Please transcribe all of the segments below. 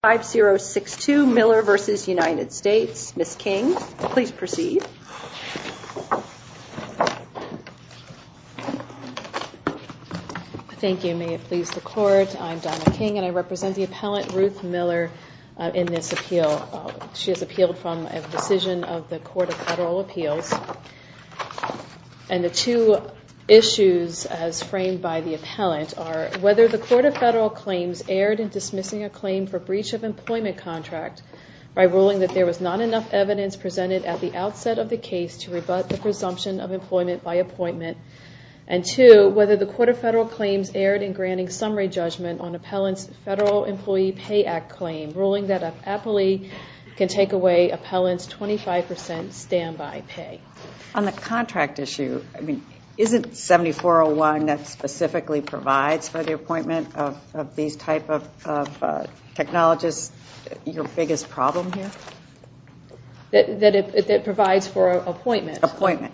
5062 Miller v. United States. Ms. King, please proceed. Thank you. May it please the Court, I'm Donna King and I represent the appellant Ruth Miller in this appeal. She has appealed from a decision of the Court of Federal Appeals. And the two issues as framed by the appellant are whether the Court of Federal Claims erred in dismissing a claim for breach of employment contract by ruling that there was not enough evidence presented at the outset of the case to rebut the presumption of employment by appointment, and two, whether the Court of Federal Claims erred in granting summary judgment on appellant's Federal Employee Pay Act claim, and ruling that an appellee can take away appellant's 25% standby pay. On the contract issue, isn't 7401 that specifically provides for the appointment of these type of technologists your biggest problem here? That it provides for appointment. Appointment.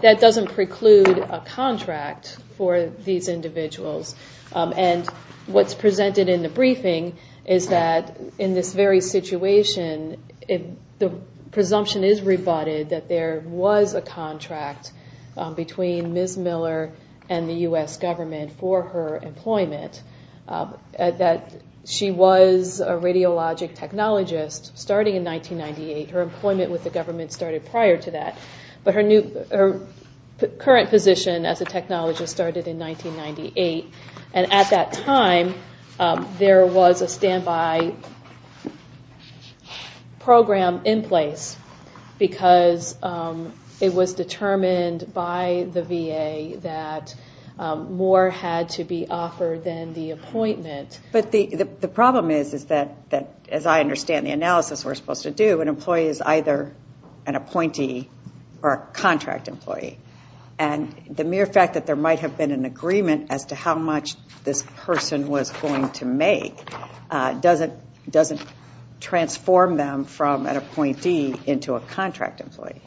That doesn't preclude a contract for these individuals. And what's presented in the briefing is that in this very situation, the presumption is rebutted that there was a contract between Ms. Miller and the U.S. government for her employment, that she was a radiologic technologist starting in 1998. Her employment with the government started prior to that. But her current position as a technologist started in 1998, and at that time there was a standby program in place because it was determined by the VA that more had to be offered than the appointment. But the problem is that, as I understand the analysis we're supposed to do, an employee is either an appointee or a contract employee. And the mere fact that there might have been an agreement as to how much this person was going to make doesn't transform them from an appointee into a contract employee.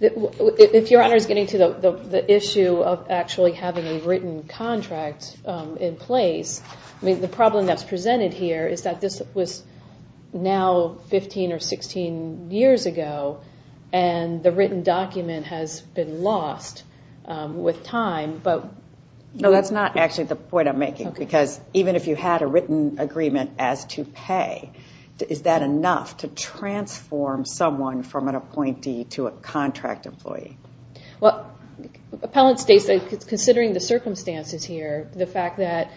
If Your Honor is getting to the issue of actually having a written contract in place, the problem that's presented here is that this was now 15 or 16 years ago, and the written document has been lost with time. No, that's not actually the point I'm making, because even if you had a written agreement as to pay, is that enough to transform someone from an appointee to a contract employee? Well, appellant states that, considering the circumstances here, the fact that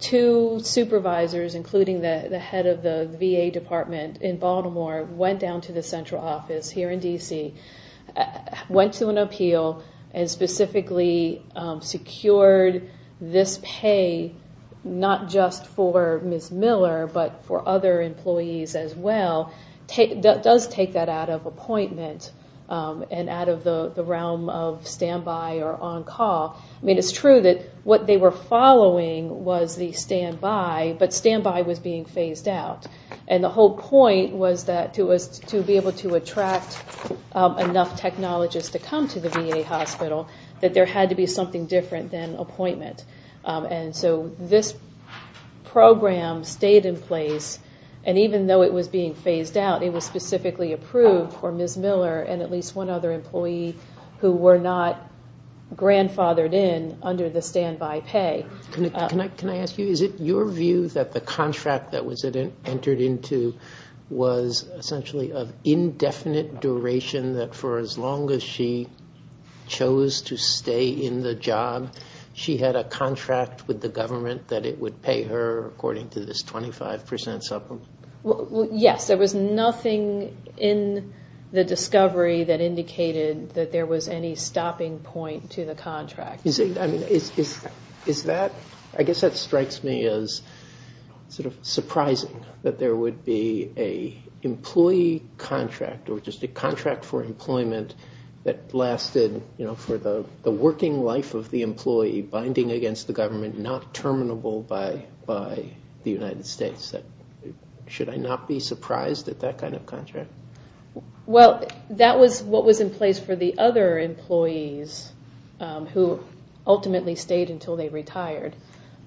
two supervisors, including the head of the VA department in Baltimore, went down to the central office here in D.C., went to an appeal, and specifically secured this pay not just for Ms. Miller but for other employees as well, does take that out of appointment and out of the realm of standby or on-call. I mean, it's true that what they were following was the standby, but standby was being phased out. And the whole point was that to be able to attract enough technologists to come to the VA hospital, that there had to be something different than appointment. And so this program stayed in place, and even though it was being phased out, it was specifically approved for Ms. Miller and at least one other employee who were not grandfathered in under the standby pay. Can I ask you, is it your view that the contract that was entered into was essentially of indefinite duration, that for as long as she chose to stay in the job, she had a contract with the government that it would pay her according to this 25% supplement? Yes, there was nothing in the discovery that indicated that there was any stopping point to the contract. I guess that strikes me as sort of surprising that there would be an employee contract or just a contract for employment that lasted for the working life of the employee, binding against the government, not terminable by the United States. Should I not be surprised at that kind of contract? Well, that was what was in place for the other employees who ultimately stayed until they retired.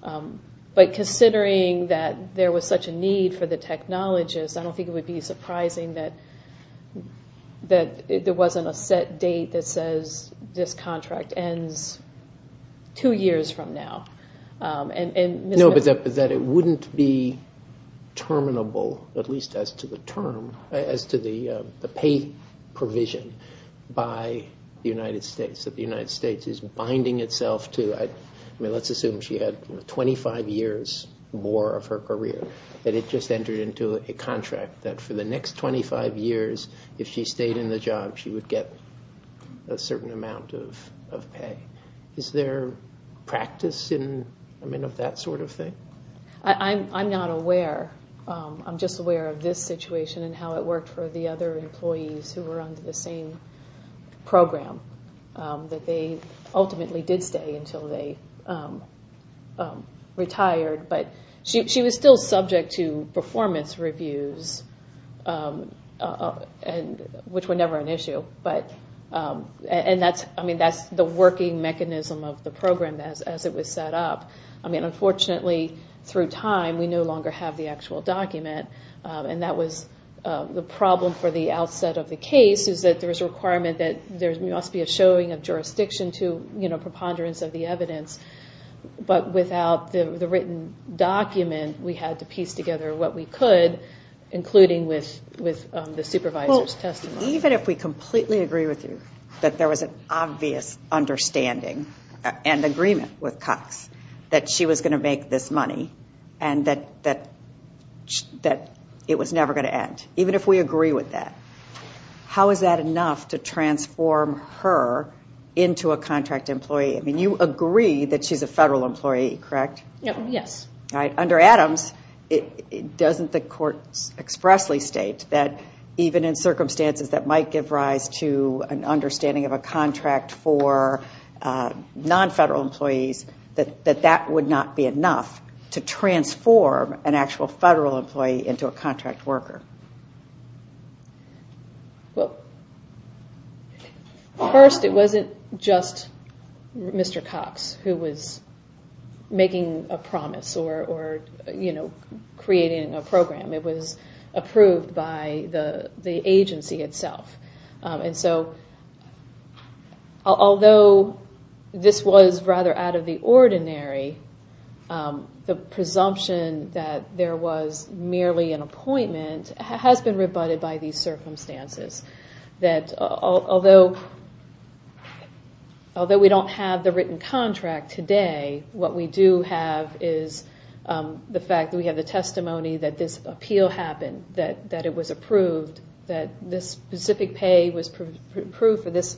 But considering that there was such a need for the technologists, I don't think it would be surprising that there wasn't a set date that says this contract ends two years from now. No, but that it wouldn't be terminable, at least as to the term, as to the pay provision by the United States, that the United States is binding itself to, I mean let's assume she had 25 years more of her career, that it just entered into a contract that for the next 25 years, if she stayed in the job, she would get a certain amount of pay. Is there practice of that sort of thing? I'm not aware. I'm just aware of this situation and how it worked for the other employees who were under the same program, that they ultimately did stay until they retired. But she was still subject to performance reviews, which were never an issue. And that's the working mechanism of the program as it was set up. Unfortunately, through time, we no longer have the actual document. And that was the problem for the outset of the case, is that there was a requirement that there must be a showing of jurisdiction to preponderance of the evidence. But without the written document, we had to piece together what we could, including with the supervisor's testimony. Even if we completely agree with you that there was an obvious understanding and agreement with Cox that she was going to make this money and that it was never going to end, even if we agree with that, how is that enough to transform her into a contract employee? I mean you agree that she's a federal employee, correct? Yes. Under Adams, doesn't the court expressly state that even in circumstances that might give rise to an understanding of a contract for nonfederal employees, that that would not be enough to transform an actual federal employee into a contract worker? Well, first, it wasn't just Mr. Cox who was making a promise or creating a program. It was approved by the agency itself. And so although this was rather out of the ordinary, the presumption that there was merely an appointment has been rebutted by these circumstances. Although we don't have the written contract today, what we do have is the fact that we have the testimony that this appeal happened, that it was approved, that this specific pay was approved for this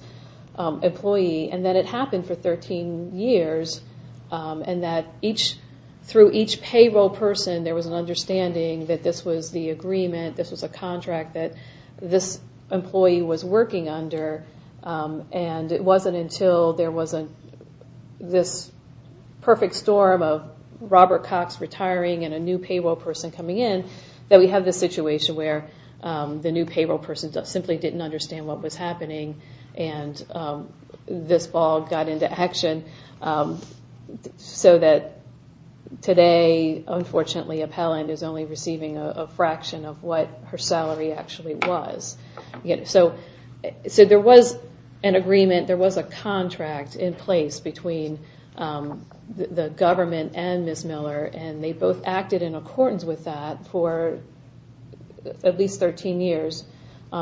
employee, and that it happened for 13 years and that through each payroll person there was an understanding that this was the agreement, this was a contract that this employee was working under, and it wasn't until there was this perfect storm of Robert Cox retiring and a new payroll person coming in that we have this situation where the new payroll person simply didn't understand what was happening and this ball got into action so that today, unfortunately, a paland is only receiving a fraction of what her salary actually was. So there was an agreement, there was a contract in place between the government and Ms. Miller, and they both acted in accordance with that for at least 13 years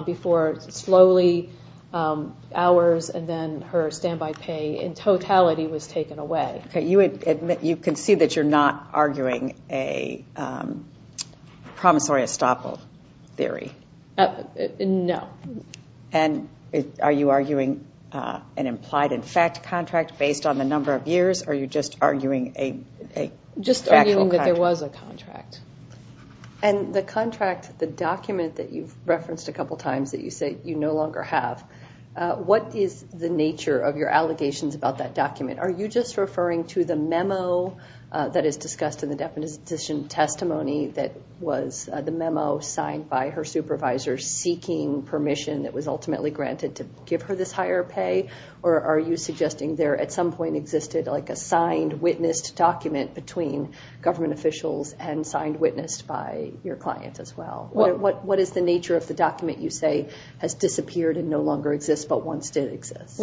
before slowly hours and then her standby pay in totality was taken away. You can see that you're not arguing a promissory estoppel theory. No. And are you arguing an implied in fact contract based on the number of years, or are you just arguing a factual contract? Just arguing that there was a contract. And the contract, the document that you've referenced a couple times that you say you no longer have, what is the nature of your allegations about that document? Are you just referring to the memo that is discussed in the definition testimony that was the memo signed by her supervisor seeking permission that was ultimately granted to give her this higher pay, or are you suggesting there at some point existed like a signed witnessed document between government officials and signed witnessed by your client as well? What is the nature of the document you say has disappeared and no longer exists but once did exist?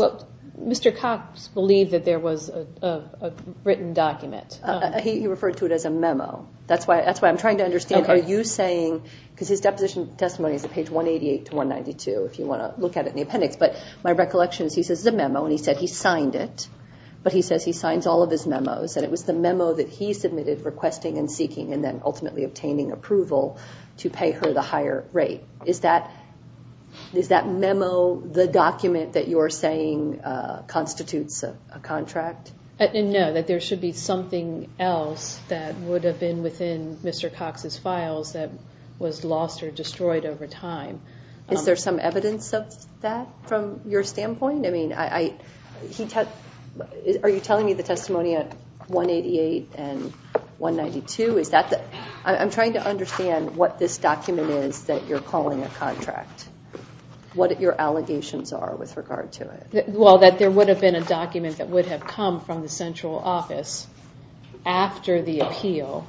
Mr. Cox believed that there was a written document. He referred to it as a memo. That's why I'm trying to understand are you saying, because his deposition testimony is at page 188 to 192 if you want to look at it in the appendix, but my recollection is he says it's a memo and he said he signed it, but he says he signs all of his memos and it was the memo that he submitted requesting and seeking and then ultimately obtaining approval to pay her the higher rate. Is that memo the document that you're saying constitutes a contract? No, that there should be something else that would have been within Mr. Cox's files that was lost or destroyed over time. Is there some evidence of that from your standpoint? Are you telling me the testimony at 188 and 192? I'm trying to understand what this document is that you're calling a contract, what your allegations are with regard to it. Well, that there would have been a document that would have come from the central office after the appeal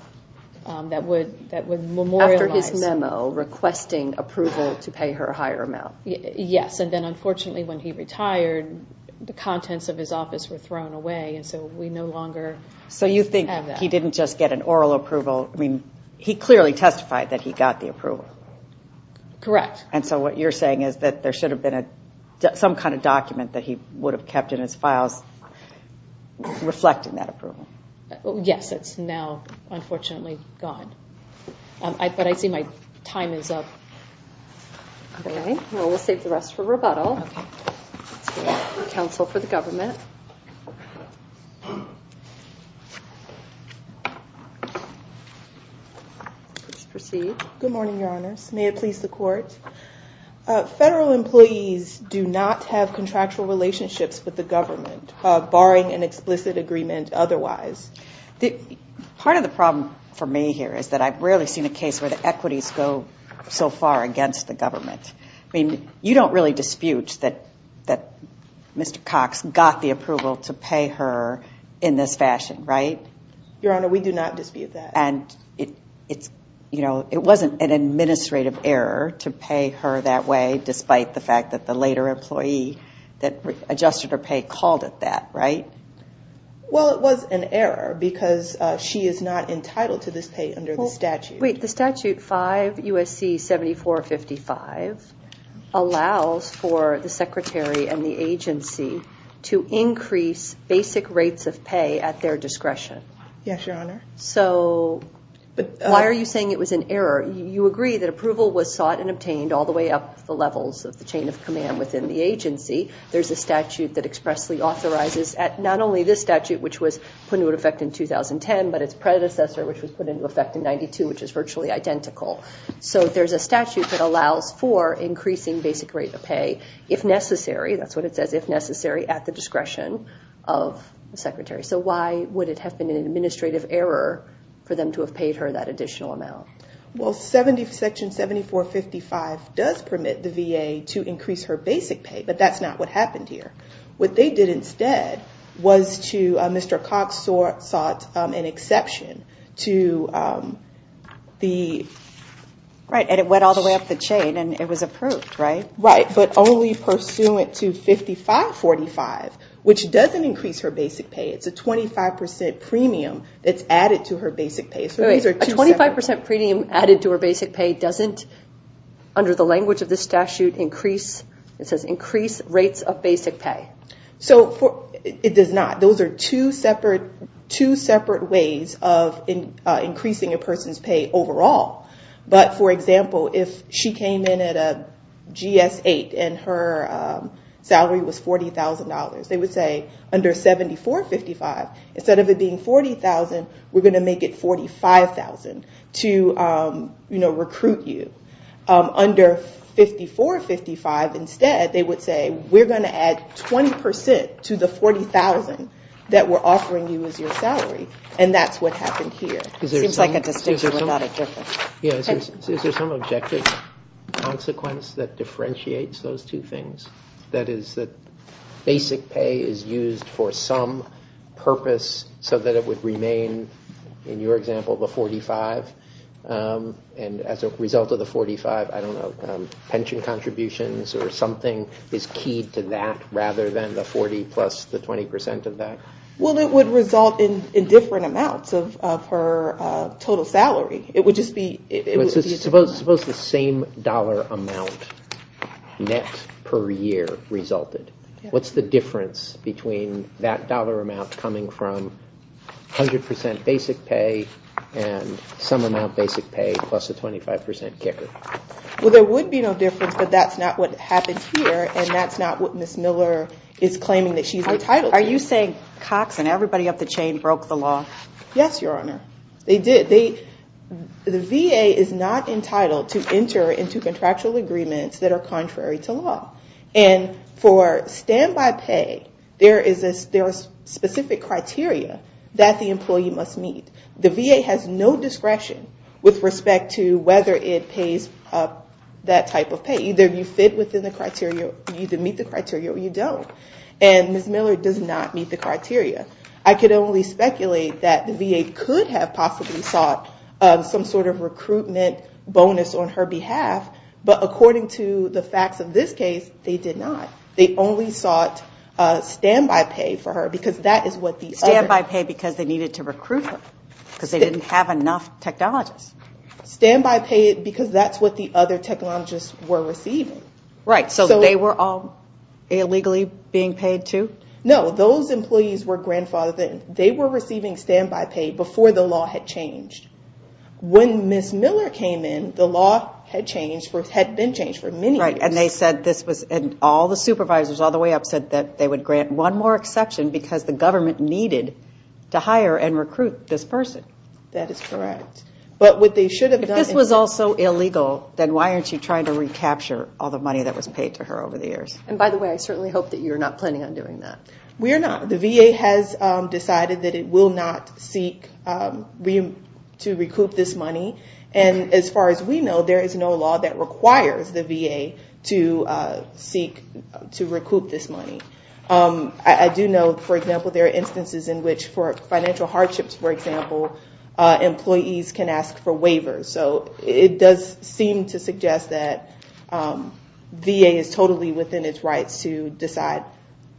that would memorialize. After his memo requesting approval to pay her a higher amount. Yes, and then unfortunately when he retired, the contents of his office were thrown away and so we no longer have that. So you think he didn't just get an oral approval. He clearly testified that he got the approval. Correct. And so what you're saying is that there should have been some kind of document that he would have kept in his files reflecting that approval. Yes, it's now unfortunately gone. But I see my time is up. Well, we'll save the rest for rebuttal. Counsel for the government. Please proceed. Good morning, Your Honors. May it please the Court. Federal employees do not have contractual relationships with the government, barring an explicit agreement otherwise. Part of the problem for me here is that I've rarely seen a case where the equities go so far against the government. I mean, you don't really dispute that Mr. Cox got the approval to pay her in this fashion, right? Your Honor, we do not dispute that. It wasn't an administrative error to pay her that way, despite the fact that the later employee that adjusted her pay called it that, right? Well, it was an error because she is not entitled to this pay under the statute. Wait, the statute 5 U.S.C. 7455 allows for the secretary and the agency to increase basic rates of pay at their discretion. Yes, Your Honor. So why are you saying it was an error? You agree that approval was sought and obtained all the way up the levels of the chain of command within the agency. There's a statute that expressly authorizes not only this statute, which was put into effect in 2010, but its predecessor, which was put into effect in 1992, which is virtually identical. So there's a statute that allows for increasing basic rate of pay if necessary. That's what it says, if necessary, at the discretion of the secretary. So why would it have been an administrative error for them to have paid her that additional amount? Well, Section 7455 does permit the VA to increase her basic pay, but that's not what happened here. What they did instead was to Mr. Cox sought an exception to the... Right, and it went all the way up the chain and it was approved, right? Right, but only pursuant to 5545, which doesn't increase her basic pay. It's a 25% premium that's added to her basic pay. A 25% premium added to her basic pay doesn't, under the language of this statute, increase rates of basic pay? It does not. Those are two separate ways of increasing a person's pay overall. But, for example, if she came in at a GS-8 and her salary was $40,000, they would say, under 7455, instead of it being $40,000, we're going to make it $45,000 to recruit you. Under 5455, instead, they would say, we're going to add 20% to the $40,000 that we're offering you as your salary, and that's what happened here. It seems like a distinction without a difference. Is there some objective consequence that differentiates those two things? That is that basic pay is used for some purpose so that it would remain, in your example, the 45, and as a result of the 45, I don't know, pension contributions or something is keyed to that, rather than the 40 plus the 20% of that? Well, it would result in different amounts of her total salary. Suppose the same dollar amount net per year resulted. What's the difference between that dollar amount coming from 100% basic pay and some amount basic pay plus a 25% kicker? Well, there would be no difference, but that's not what happened here, and that's not what Ms. Miller is claiming that she's entitled to. Are you saying Cox and everybody up the chain broke the law? Yes, Your Honor, they did. The VA is not entitled to enter into contractual agreements that are contrary to law, and for standby pay, there is a specific criteria that the employee must meet. The VA has no discretion with respect to whether it pays up that type of pay. Either you fit within the criteria or you either meet the criteria or you don't, and Ms. Miller does not meet the criteria. I could only speculate that the VA could have possibly sought some sort of recruitment bonus on her behalf, but according to the facts of this case, they did not. They only sought standby pay for her because that is what the other. Standby pay because they needed to recruit her because they didn't have enough technologists. Standby pay because that's what the other technologists were receiving. Right, so they were all illegally being paid too? No, those employees were receiving standby pay before the law had changed. When Ms. Miller came in, the law had been changed for many years. Right, and all the supervisors all the way up said that they would grant one more exception because the government needed to hire and recruit this person. That is correct. If this was also illegal, then why aren't you trying to recapture all the money that was paid to her over the years? By the way, I certainly hope that you're not planning on doing that. We're not. The VA has decided that it will not seek to recoup this money, and as far as we know, there is no law that requires the VA to seek to recoup this money. I do know, for example, there are instances in which for financial hardships, for example, employees can ask for waivers. So it does seem to suggest that VA is totally within its rights to decide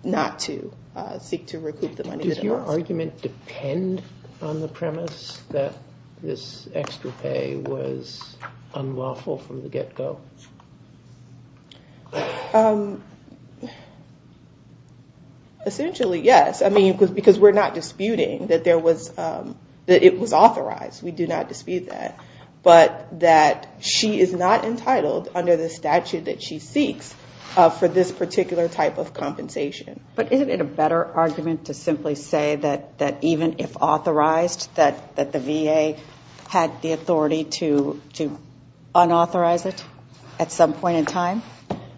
not to seek to recoup the money. Does your argument depend on the premise that this extra pay was unlawful from the get-go? Essentially, yes, because we're not disputing that it was authorized. We do not dispute that. But that she is not entitled, under the statute that she seeks, for this particular type of compensation. But isn't it a better argument to simply say that even if authorized, that the VA had the authority to unauthorize it at some point in time?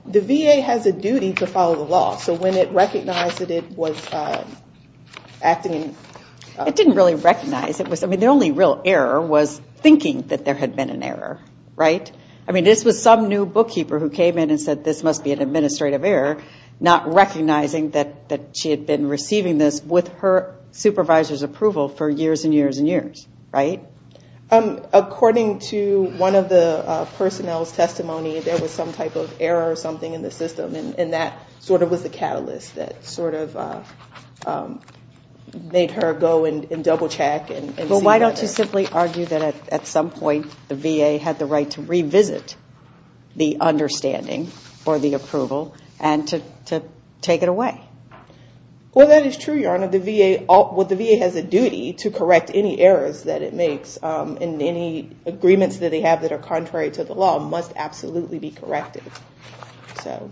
The VA has a duty to follow the law. So when it recognized that it was acting in- It didn't really recognize. I mean, the only real error was thinking that there had been an error, right? I mean, this was some new bookkeeper who came in and said, this must be an administrative error, not recognizing that she had been receiving this with her supervisor's approval for years and years and years, right? According to one of the personnel's testimony, there was some type of error or something in the system, and that sort of was the catalyst that sort of made her go and double-check and see- But why don't you simply argue that at some point, the VA had the right to revisit the understanding or the approval and to take it away? Well, that is true, Your Honor. The VA has a duty to correct any errors that it makes, and any agreements that they have that are contrary to the law must absolutely be corrected. So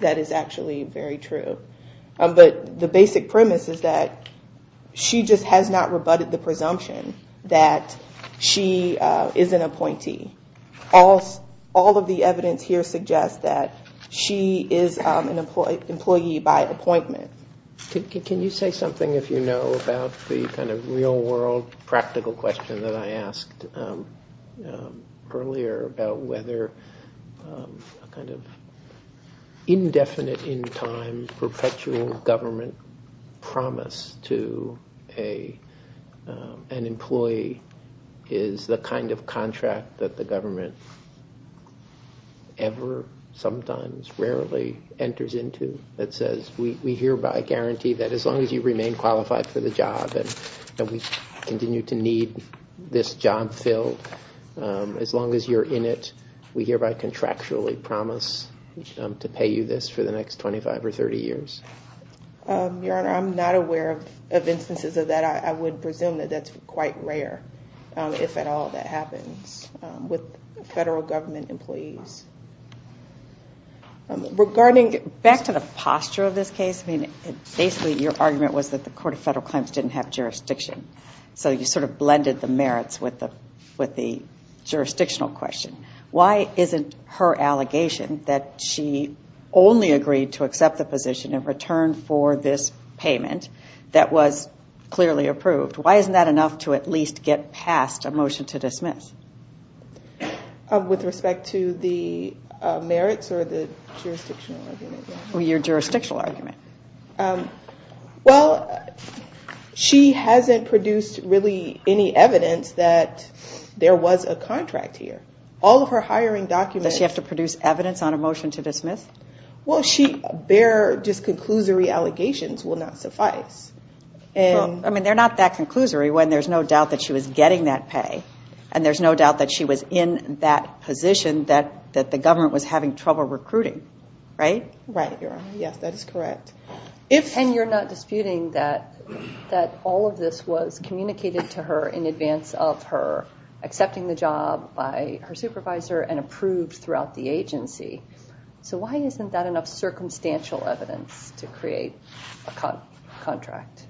that is actually very true. But the basic premise is that she just has not rebutted the presumption that she is an appointee. All of the evidence here suggests that she is an employee by appointment. Can you say something, if you know, about the kind of real-world practical question that I asked earlier about whether a kind of indefinite-in-time perpetual government promise to an employee is the kind of contract that the government ever, sometimes, rarely enters into that says, we hereby guarantee that as long as you remain qualified for the job and we continue to need this job filled, as long as you're in it, we hereby contractually promise to pay you this for the next 25 or 30 years? Your Honor, I'm not aware of instances of that. I would presume that that's quite rare, if at all that happens with federal government employees. Regarding back to the posture of this case, I mean, basically your argument was that the Court of Federal Claims didn't have jurisdiction. So you sort of blended the merits with the jurisdictional question. Why isn't her allegation that she only agreed to accept the position in return for this payment that was clearly approved, why isn't that enough to at least get past a motion to dismiss? With respect to the merits or the jurisdictional argument? Your jurisdictional argument. Well, she hasn't produced really any evidence that there was a contract here. All of her hiring documents... Does she have to produce evidence on a motion to dismiss? Well, bare just conclusory allegations will not suffice. I mean, they're not that conclusory when there's no doubt that she was getting that pay and there's no doubt that she was in that position that the government was having trouble recruiting, right? Right, Your Honor. Yes, that is correct. And you're not disputing that all of this was communicated to her in advance of her accepting the job by her supervisor and approved throughout the agency. So why isn't that enough circumstantial evidence to create a contract?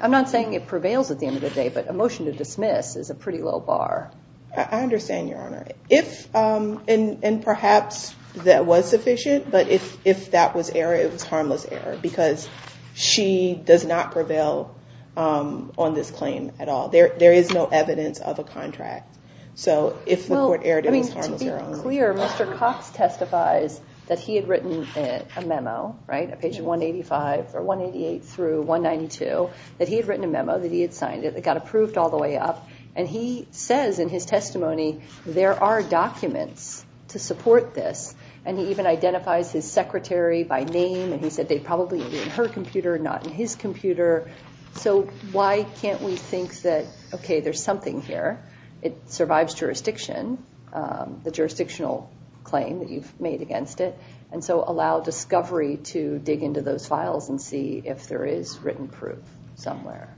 I'm not saying it prevails at the end of the day, but a motion to dismiss is a pretty low bar. I understand, Your Honor. And perhaps that was sufficient, but if that was error, it was harmless error because she does not prevail on this claim at all. There is no evidence of a contract. So if the court erred, it was harmless error. To be clear, Mr. Cox testifies that he had written a memo, right, page 188 through 192, that he had written a memo, that he had signed it, it got approved all the way up, and he says in his testimony, there are documents to support this, and he even identifies his secretary by name, and he said they'd probably be in her computer, not in his computer. So why can't we think that, okay, there's something here, it survives jurisdiction, the jurisdictional claim that you've made against it, and so allow discovery to dig into those files and see if there is written proof somewhere.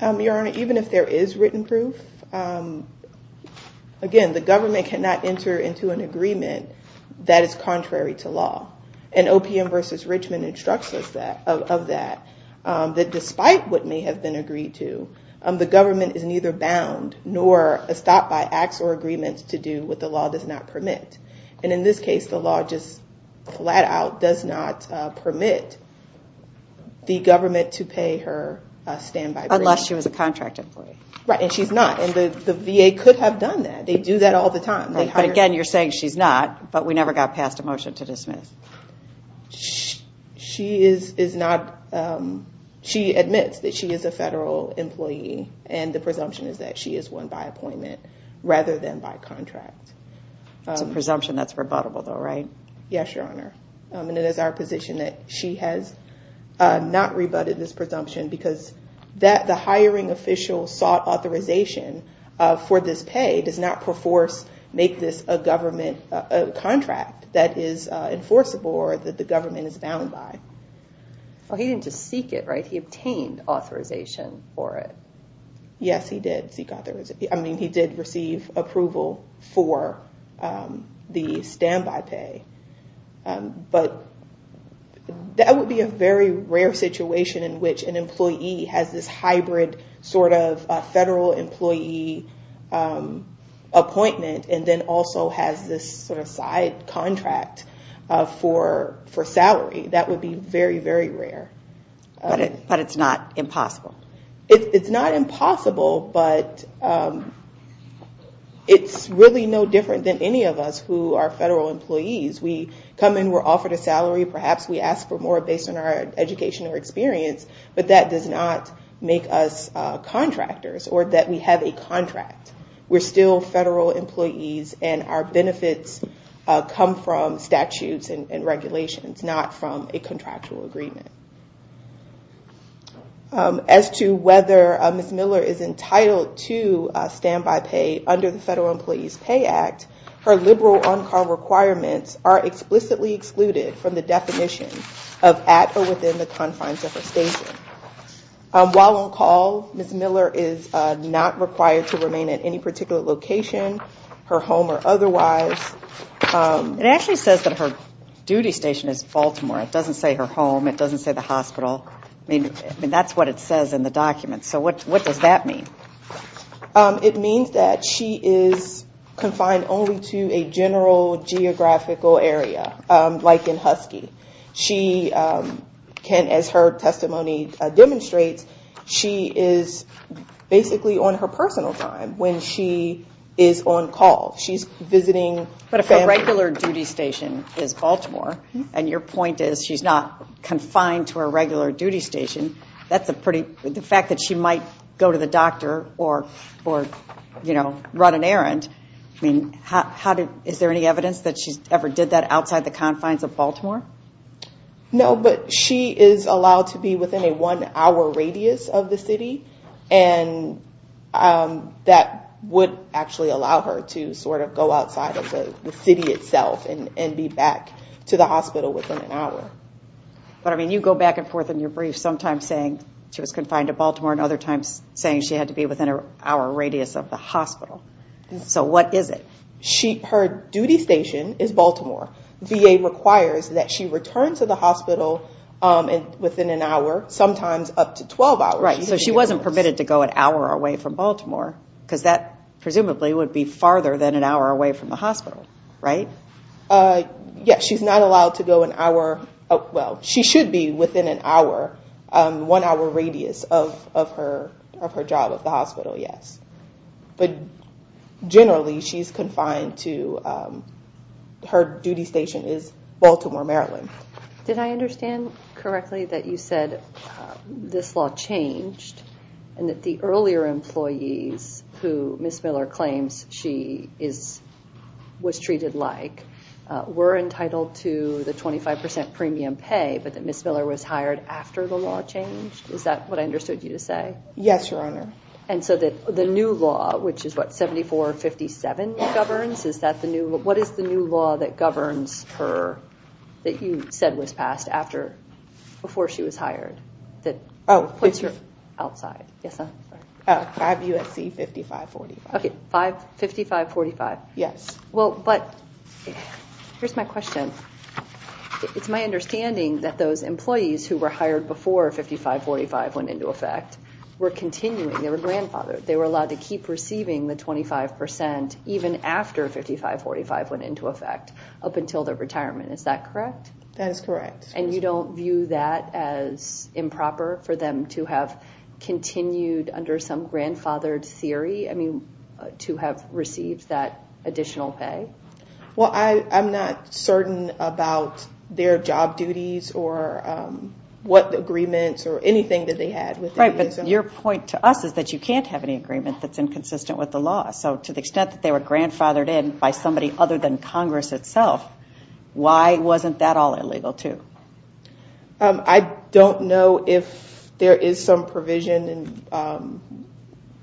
Your Honor, even if there is written proof, again, the government cannot enter into an agreement that is contrary to law. And OPM v. Richmond instructs us of that, that despite what may have been agreed to, the government is neither bound nor stopped by acts or agreements to do what the law does not permit. And in this case, the law just flat out does not permit the government to pay her standby. Unless she was a contract employee. Right, and she's not, and the VA could have done that. They do that all the time. But again, you're saying she's not, but we never got passed a motion to dismiss. She is not, she admits that she is a federal employee, and the presumption is that she is one by appointment rather than by contract. It's a presumption that's rebuttable though, right? Yes, Your Honor, and it is our position that she has not rebutted this presumption because the hiring official sought authorization for this pay does not make this a government contract that is enforceable or that the government is bound by. He didn't just seek it, right? He obtained authorization for it. Yes, he did seek authorization. I mean, he did receive approval for the standby pay, but that would be a very rare situation in which an employee has this hybrid sort of federal employee appointment and then also has this sort of side contract for salary. That would be very, very rare. But it's not impossible. It's not impossible, but it's really no different than any of us who are federal employees. We come in, we're offered a salary, perhaps we ask for more based on our education or experience, but that does not make us contractors or that we have a contract. We're still federal employees and our benefits come from statutes and regulations, not from a contractual agreement. As to whether Ms. Miller is entitled to standby pay under the Federal Employees Pay Act, her liberal on-call requirements are explicitly excluded from the definition of at or within the confines of her station. While on call, Ms. Miller is not required to remain at any particular location, her home or otherwise. It actually says that her duty station is Baltimore. It doesn't say her home. It doesn't say the hospital. I mean, that's what it says in the document. So what does that mean? It means that she is confined only to a general geographical area, like in Husky. She can, as her testimony demonstrates, she is basically on her personal time when she is on call. She's visiting family. Her regular duty station is Baltimore, and your point is she's not confined to her regular duty station. The fact that she might go to the doctor or run an errand, is there any evidence that she ever did that outside the confines of Baltimore? No, but she is allowed to be within a one-hour radius of the city, and that would actually allow her to sort of go outside of the city itself and be back to the hospital within an hour. But, I mean, you go back and forth in your brief, sometimes saying she was confined to Baltimore and other times saying she had to be within an hour radius of the hospital. So what is it? Her duty station is Baltimore. VA requires that she return to the hospital within an hour, sometimes up to 12 hours. Right, so she wasn't permitted to go an hour away from Baltimore, because that presumably would be farther than an hour away from the hospital, right? Yes, she's not allowed to go an hour – well, she should be within an hour, one-hour radius of her job at the hospital, yes. But generally, she's confined to – her duty station is Baltimore, Maryland. Did I understand correctly that you said this law changed and that the earlier employees who Ms. Miller claims she was treated like were entitled to the 25 percent premium pay, but that Ms. Miller was hired after the law changed? Is that what I understood you to say? Yes, Your Honor. And so the new law, which is what, 7457 governs? What is the new law that governs her that you said was passed before she was hired that puts her outside? Yes, ma'am? 5 U.S.C. 5545. Okay, 5545. Yes. Well, but here's my question. It's my understanding that those employees who were hired before 5545 went into effect were continuing. They were grandfathered. They were allowed to keep receiving the 25 percent even after 5545 went into effect up until their retirement. Is that correct? That is correct. And you don't view that as improper for them to have continued under some grandfathered theory, I mean, to have received that additional pay? Well, I'm not certain about their job duties or what agreements or anything that they had. Right, but your point to us is that you can't have any agreement that's inconsistent with the law. So to the extent that they were grandfathered in by somebody other than Congress itself, why wasn't that all illegal too? I don't know if there is some provision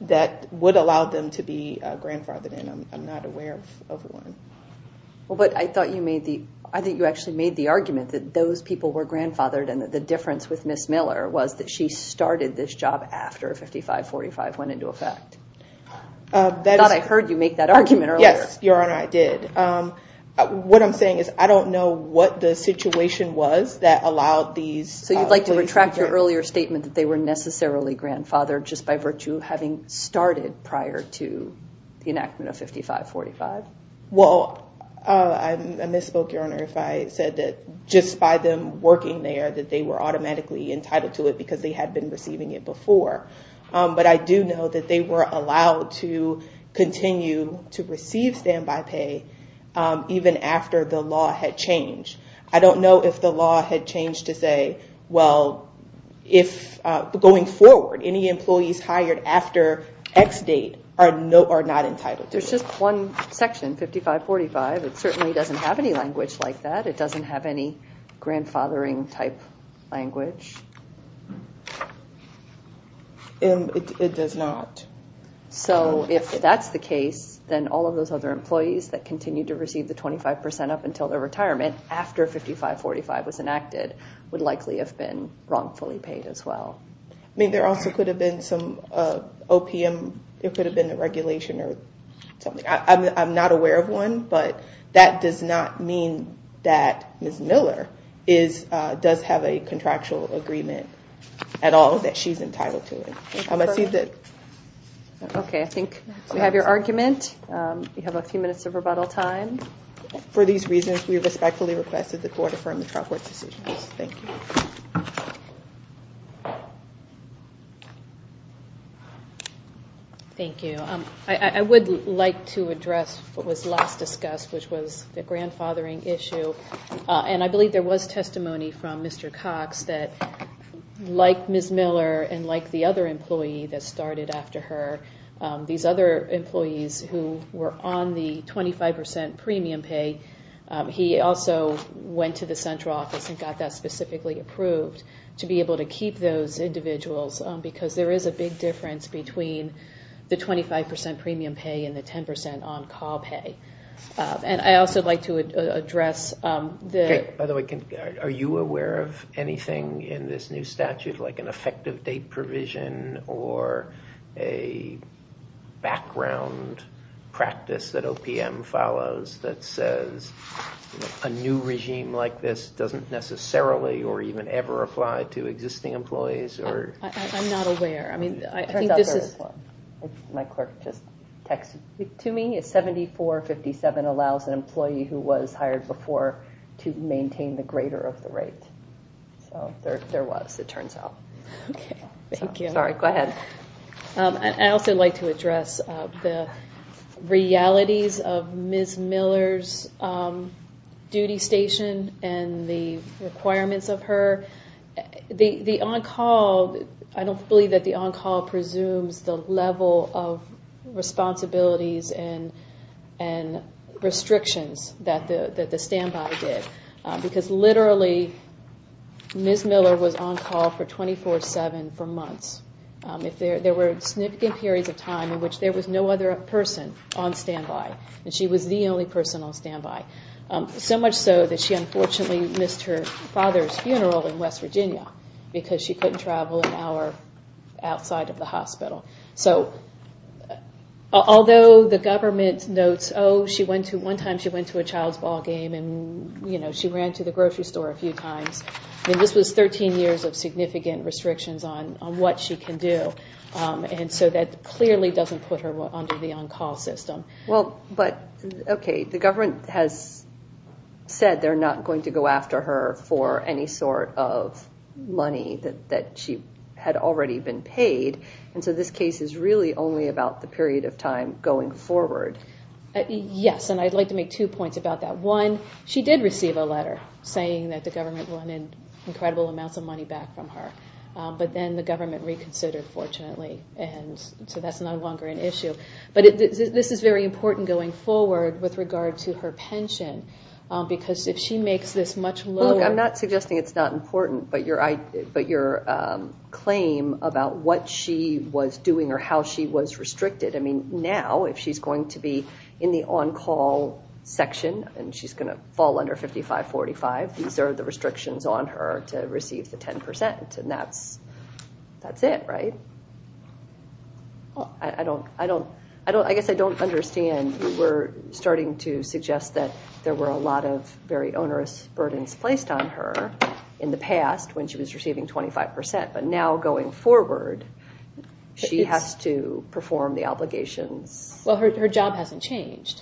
that would allow them to be grandfathered in. I'm not aware of one. Well, but I thought you made the – I think you actually made the argument that those people were grandfathered and that the difference with Ms. Miller was that she started this job after 5545 went into effect. I thought I heard you make that argument earlier. Yes, Your Honor, I did. What I'm saying is I don't know what the situation was that allowed these employees to be grandfathered. So you'd like to retract your earlier statement that they were necessarily grandfathered just by virtue of having started prior to the enactment of 5545? Well, I misspoke, Your Honor, if I said that just by them working there that they were automatically entitled to it because they had been receiving it before. But I do know that they were allowed to continue to receive standby pay even after the law had changed. I don't know if the law had changed to say, well, going forward, any employees hired after X date are not entitled to it. There's just one section, 5545. It certainly doesn't have any language like that. It doesn't have any grandfathering-type language. It does not. So if that's the case, then all of those other employees that continue to receive the 25 percent up until their retirement after 5545 was enacted would likely have been wrongfully paid as well. I mean, there also could have been some OPM, it could have been a regulation or something. I'm not aware of one, but that does not mean that Ms. Miller does have a contractual agreement at all that she's entitled to. Okay, I think we have your argument. We have a few minutes of rebuttal time. For these reasons, we respectfully request that the Board affirm the trial court's decision. Thank you. Thank you. I would like to address what was last discussed, which was the grandfathering issue. And I believe there was testimony from Mr. Cox that, like Ms. Miller and like the other employee that started after her, these other employees who were on the 25 percent premium pay, he also went to the central office and got that specifically approved to be able to keep those individuals because there is a big difference between the 25 percent premium pay and the 10 percent on-call pay. And I'd also like to address the- background practice that OPM follows that says a new regime like this doesn't necessarily or even ever apply to existing employees or- I'm not aware. I mean, I think this is- It turns out there is one. My clerk just texted to me. It's 7457 allows an employee who was hired before to maintain the greater of the rate. So there was, it turns out. Okay, thank you. Sorry, go ahead. I'd also like to address the realities of Ms. Miller's duty station and the requirements of her. The on-call, I don't believe that the on-call presumes the level of responsibilities and restrictions that the standby did. Because literally, Ms. Miller was on-call for 24-7 for months. There were significant periods of time in which there was no other person on standby. And she was the only person on standby. So much so that she unfortunately missed her father's funeral in West Virginia because she couldn't travel an hour outside of the hospital. So although the government notes, one time she went to a child's ball game and she ran to the grocery store a few times. This was 13 years of significant restrictions on what she can do. And so that clearly doesn't put her under the on-call system. Well, but okay, the government has said they're not going to go after her for any sort of money that she had already been paid. And so this case is really only about the period of time going forward. Yes, and I'd like to make two points about that. One, she did receive a letter saying that the government wanted incredible amounts of money back from her. But then the government reconsidered, fortunately. And so that's no longer an issue. But this is very important going forward with regard to her pension. Because if she makes this much lower... Well, look, I'm not suggesting it's not important, but your claim about what she was doing or how she was restricted. I mean, now if she's going to be in the on-call section and she's going to fall under 55-45, these are the restrictions on her to receive the 10%. And that's it, right? I guess I don't understand. You were starting to suggest that there were a lot of very onerous burdens placed on her in the past when she was receiving 25%. But now going forward, she has to perform the obligations. Well, her job hasn't changed.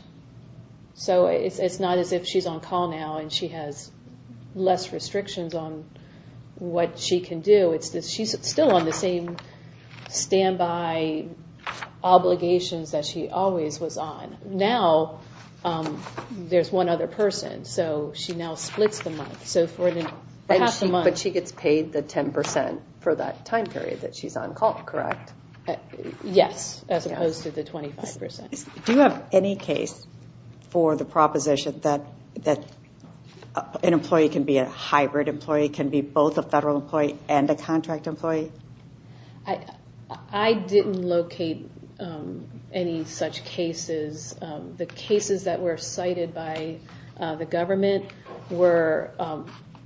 So it's not as if she's on-call now and she has less restrictions on what she can do. She's still on the same standby obligations that she always was on. Now there's one other person, so she now splits the month. But she gets paid the 10% for that time period that she's on-call, correct? Yes, as opposed to the 25%. Do you have any case for the proposition that an employee can be a hybrid employee, can be both a federal employee and a contract employee? I didn't locate any such cases. The cases that were cited by the government were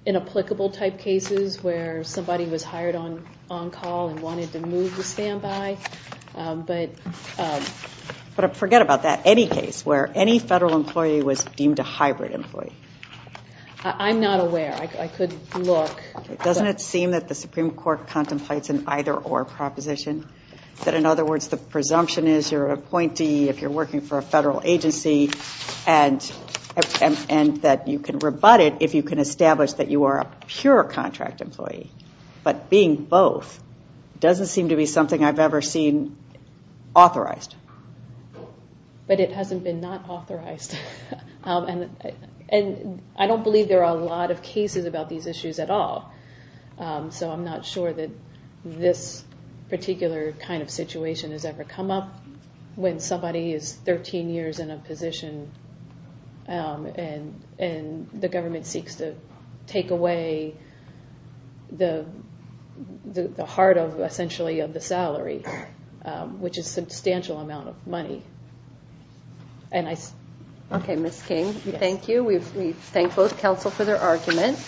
inapplicable-type cases where somebody was hired on-call and wanted to move to standby. But forget about that. Any case where any federal employee was deemed a hybrid employee? I'm not aware. I could look. Doesn't it seem that the Supreme Court contemplates an either-or proposition, that, in other words, the presumption is you're an appointee if you're working for a federal agency and that you can rebut it if you can establish that you are a pure contract employee. But being both doesn't seem to be something I've ever seen authorized. But it hasn't been not authorized. And I don't believe there are a lot of cases about these issues at all. So I'm not sure that this particular kind of situation has ever come up when somebody is 13 years in a position and the government seeks to take away the heart, essentially, of the salary, which is a substantial amount of money. Okay, Ms. King, thank you. We thank both counsel for their arguments.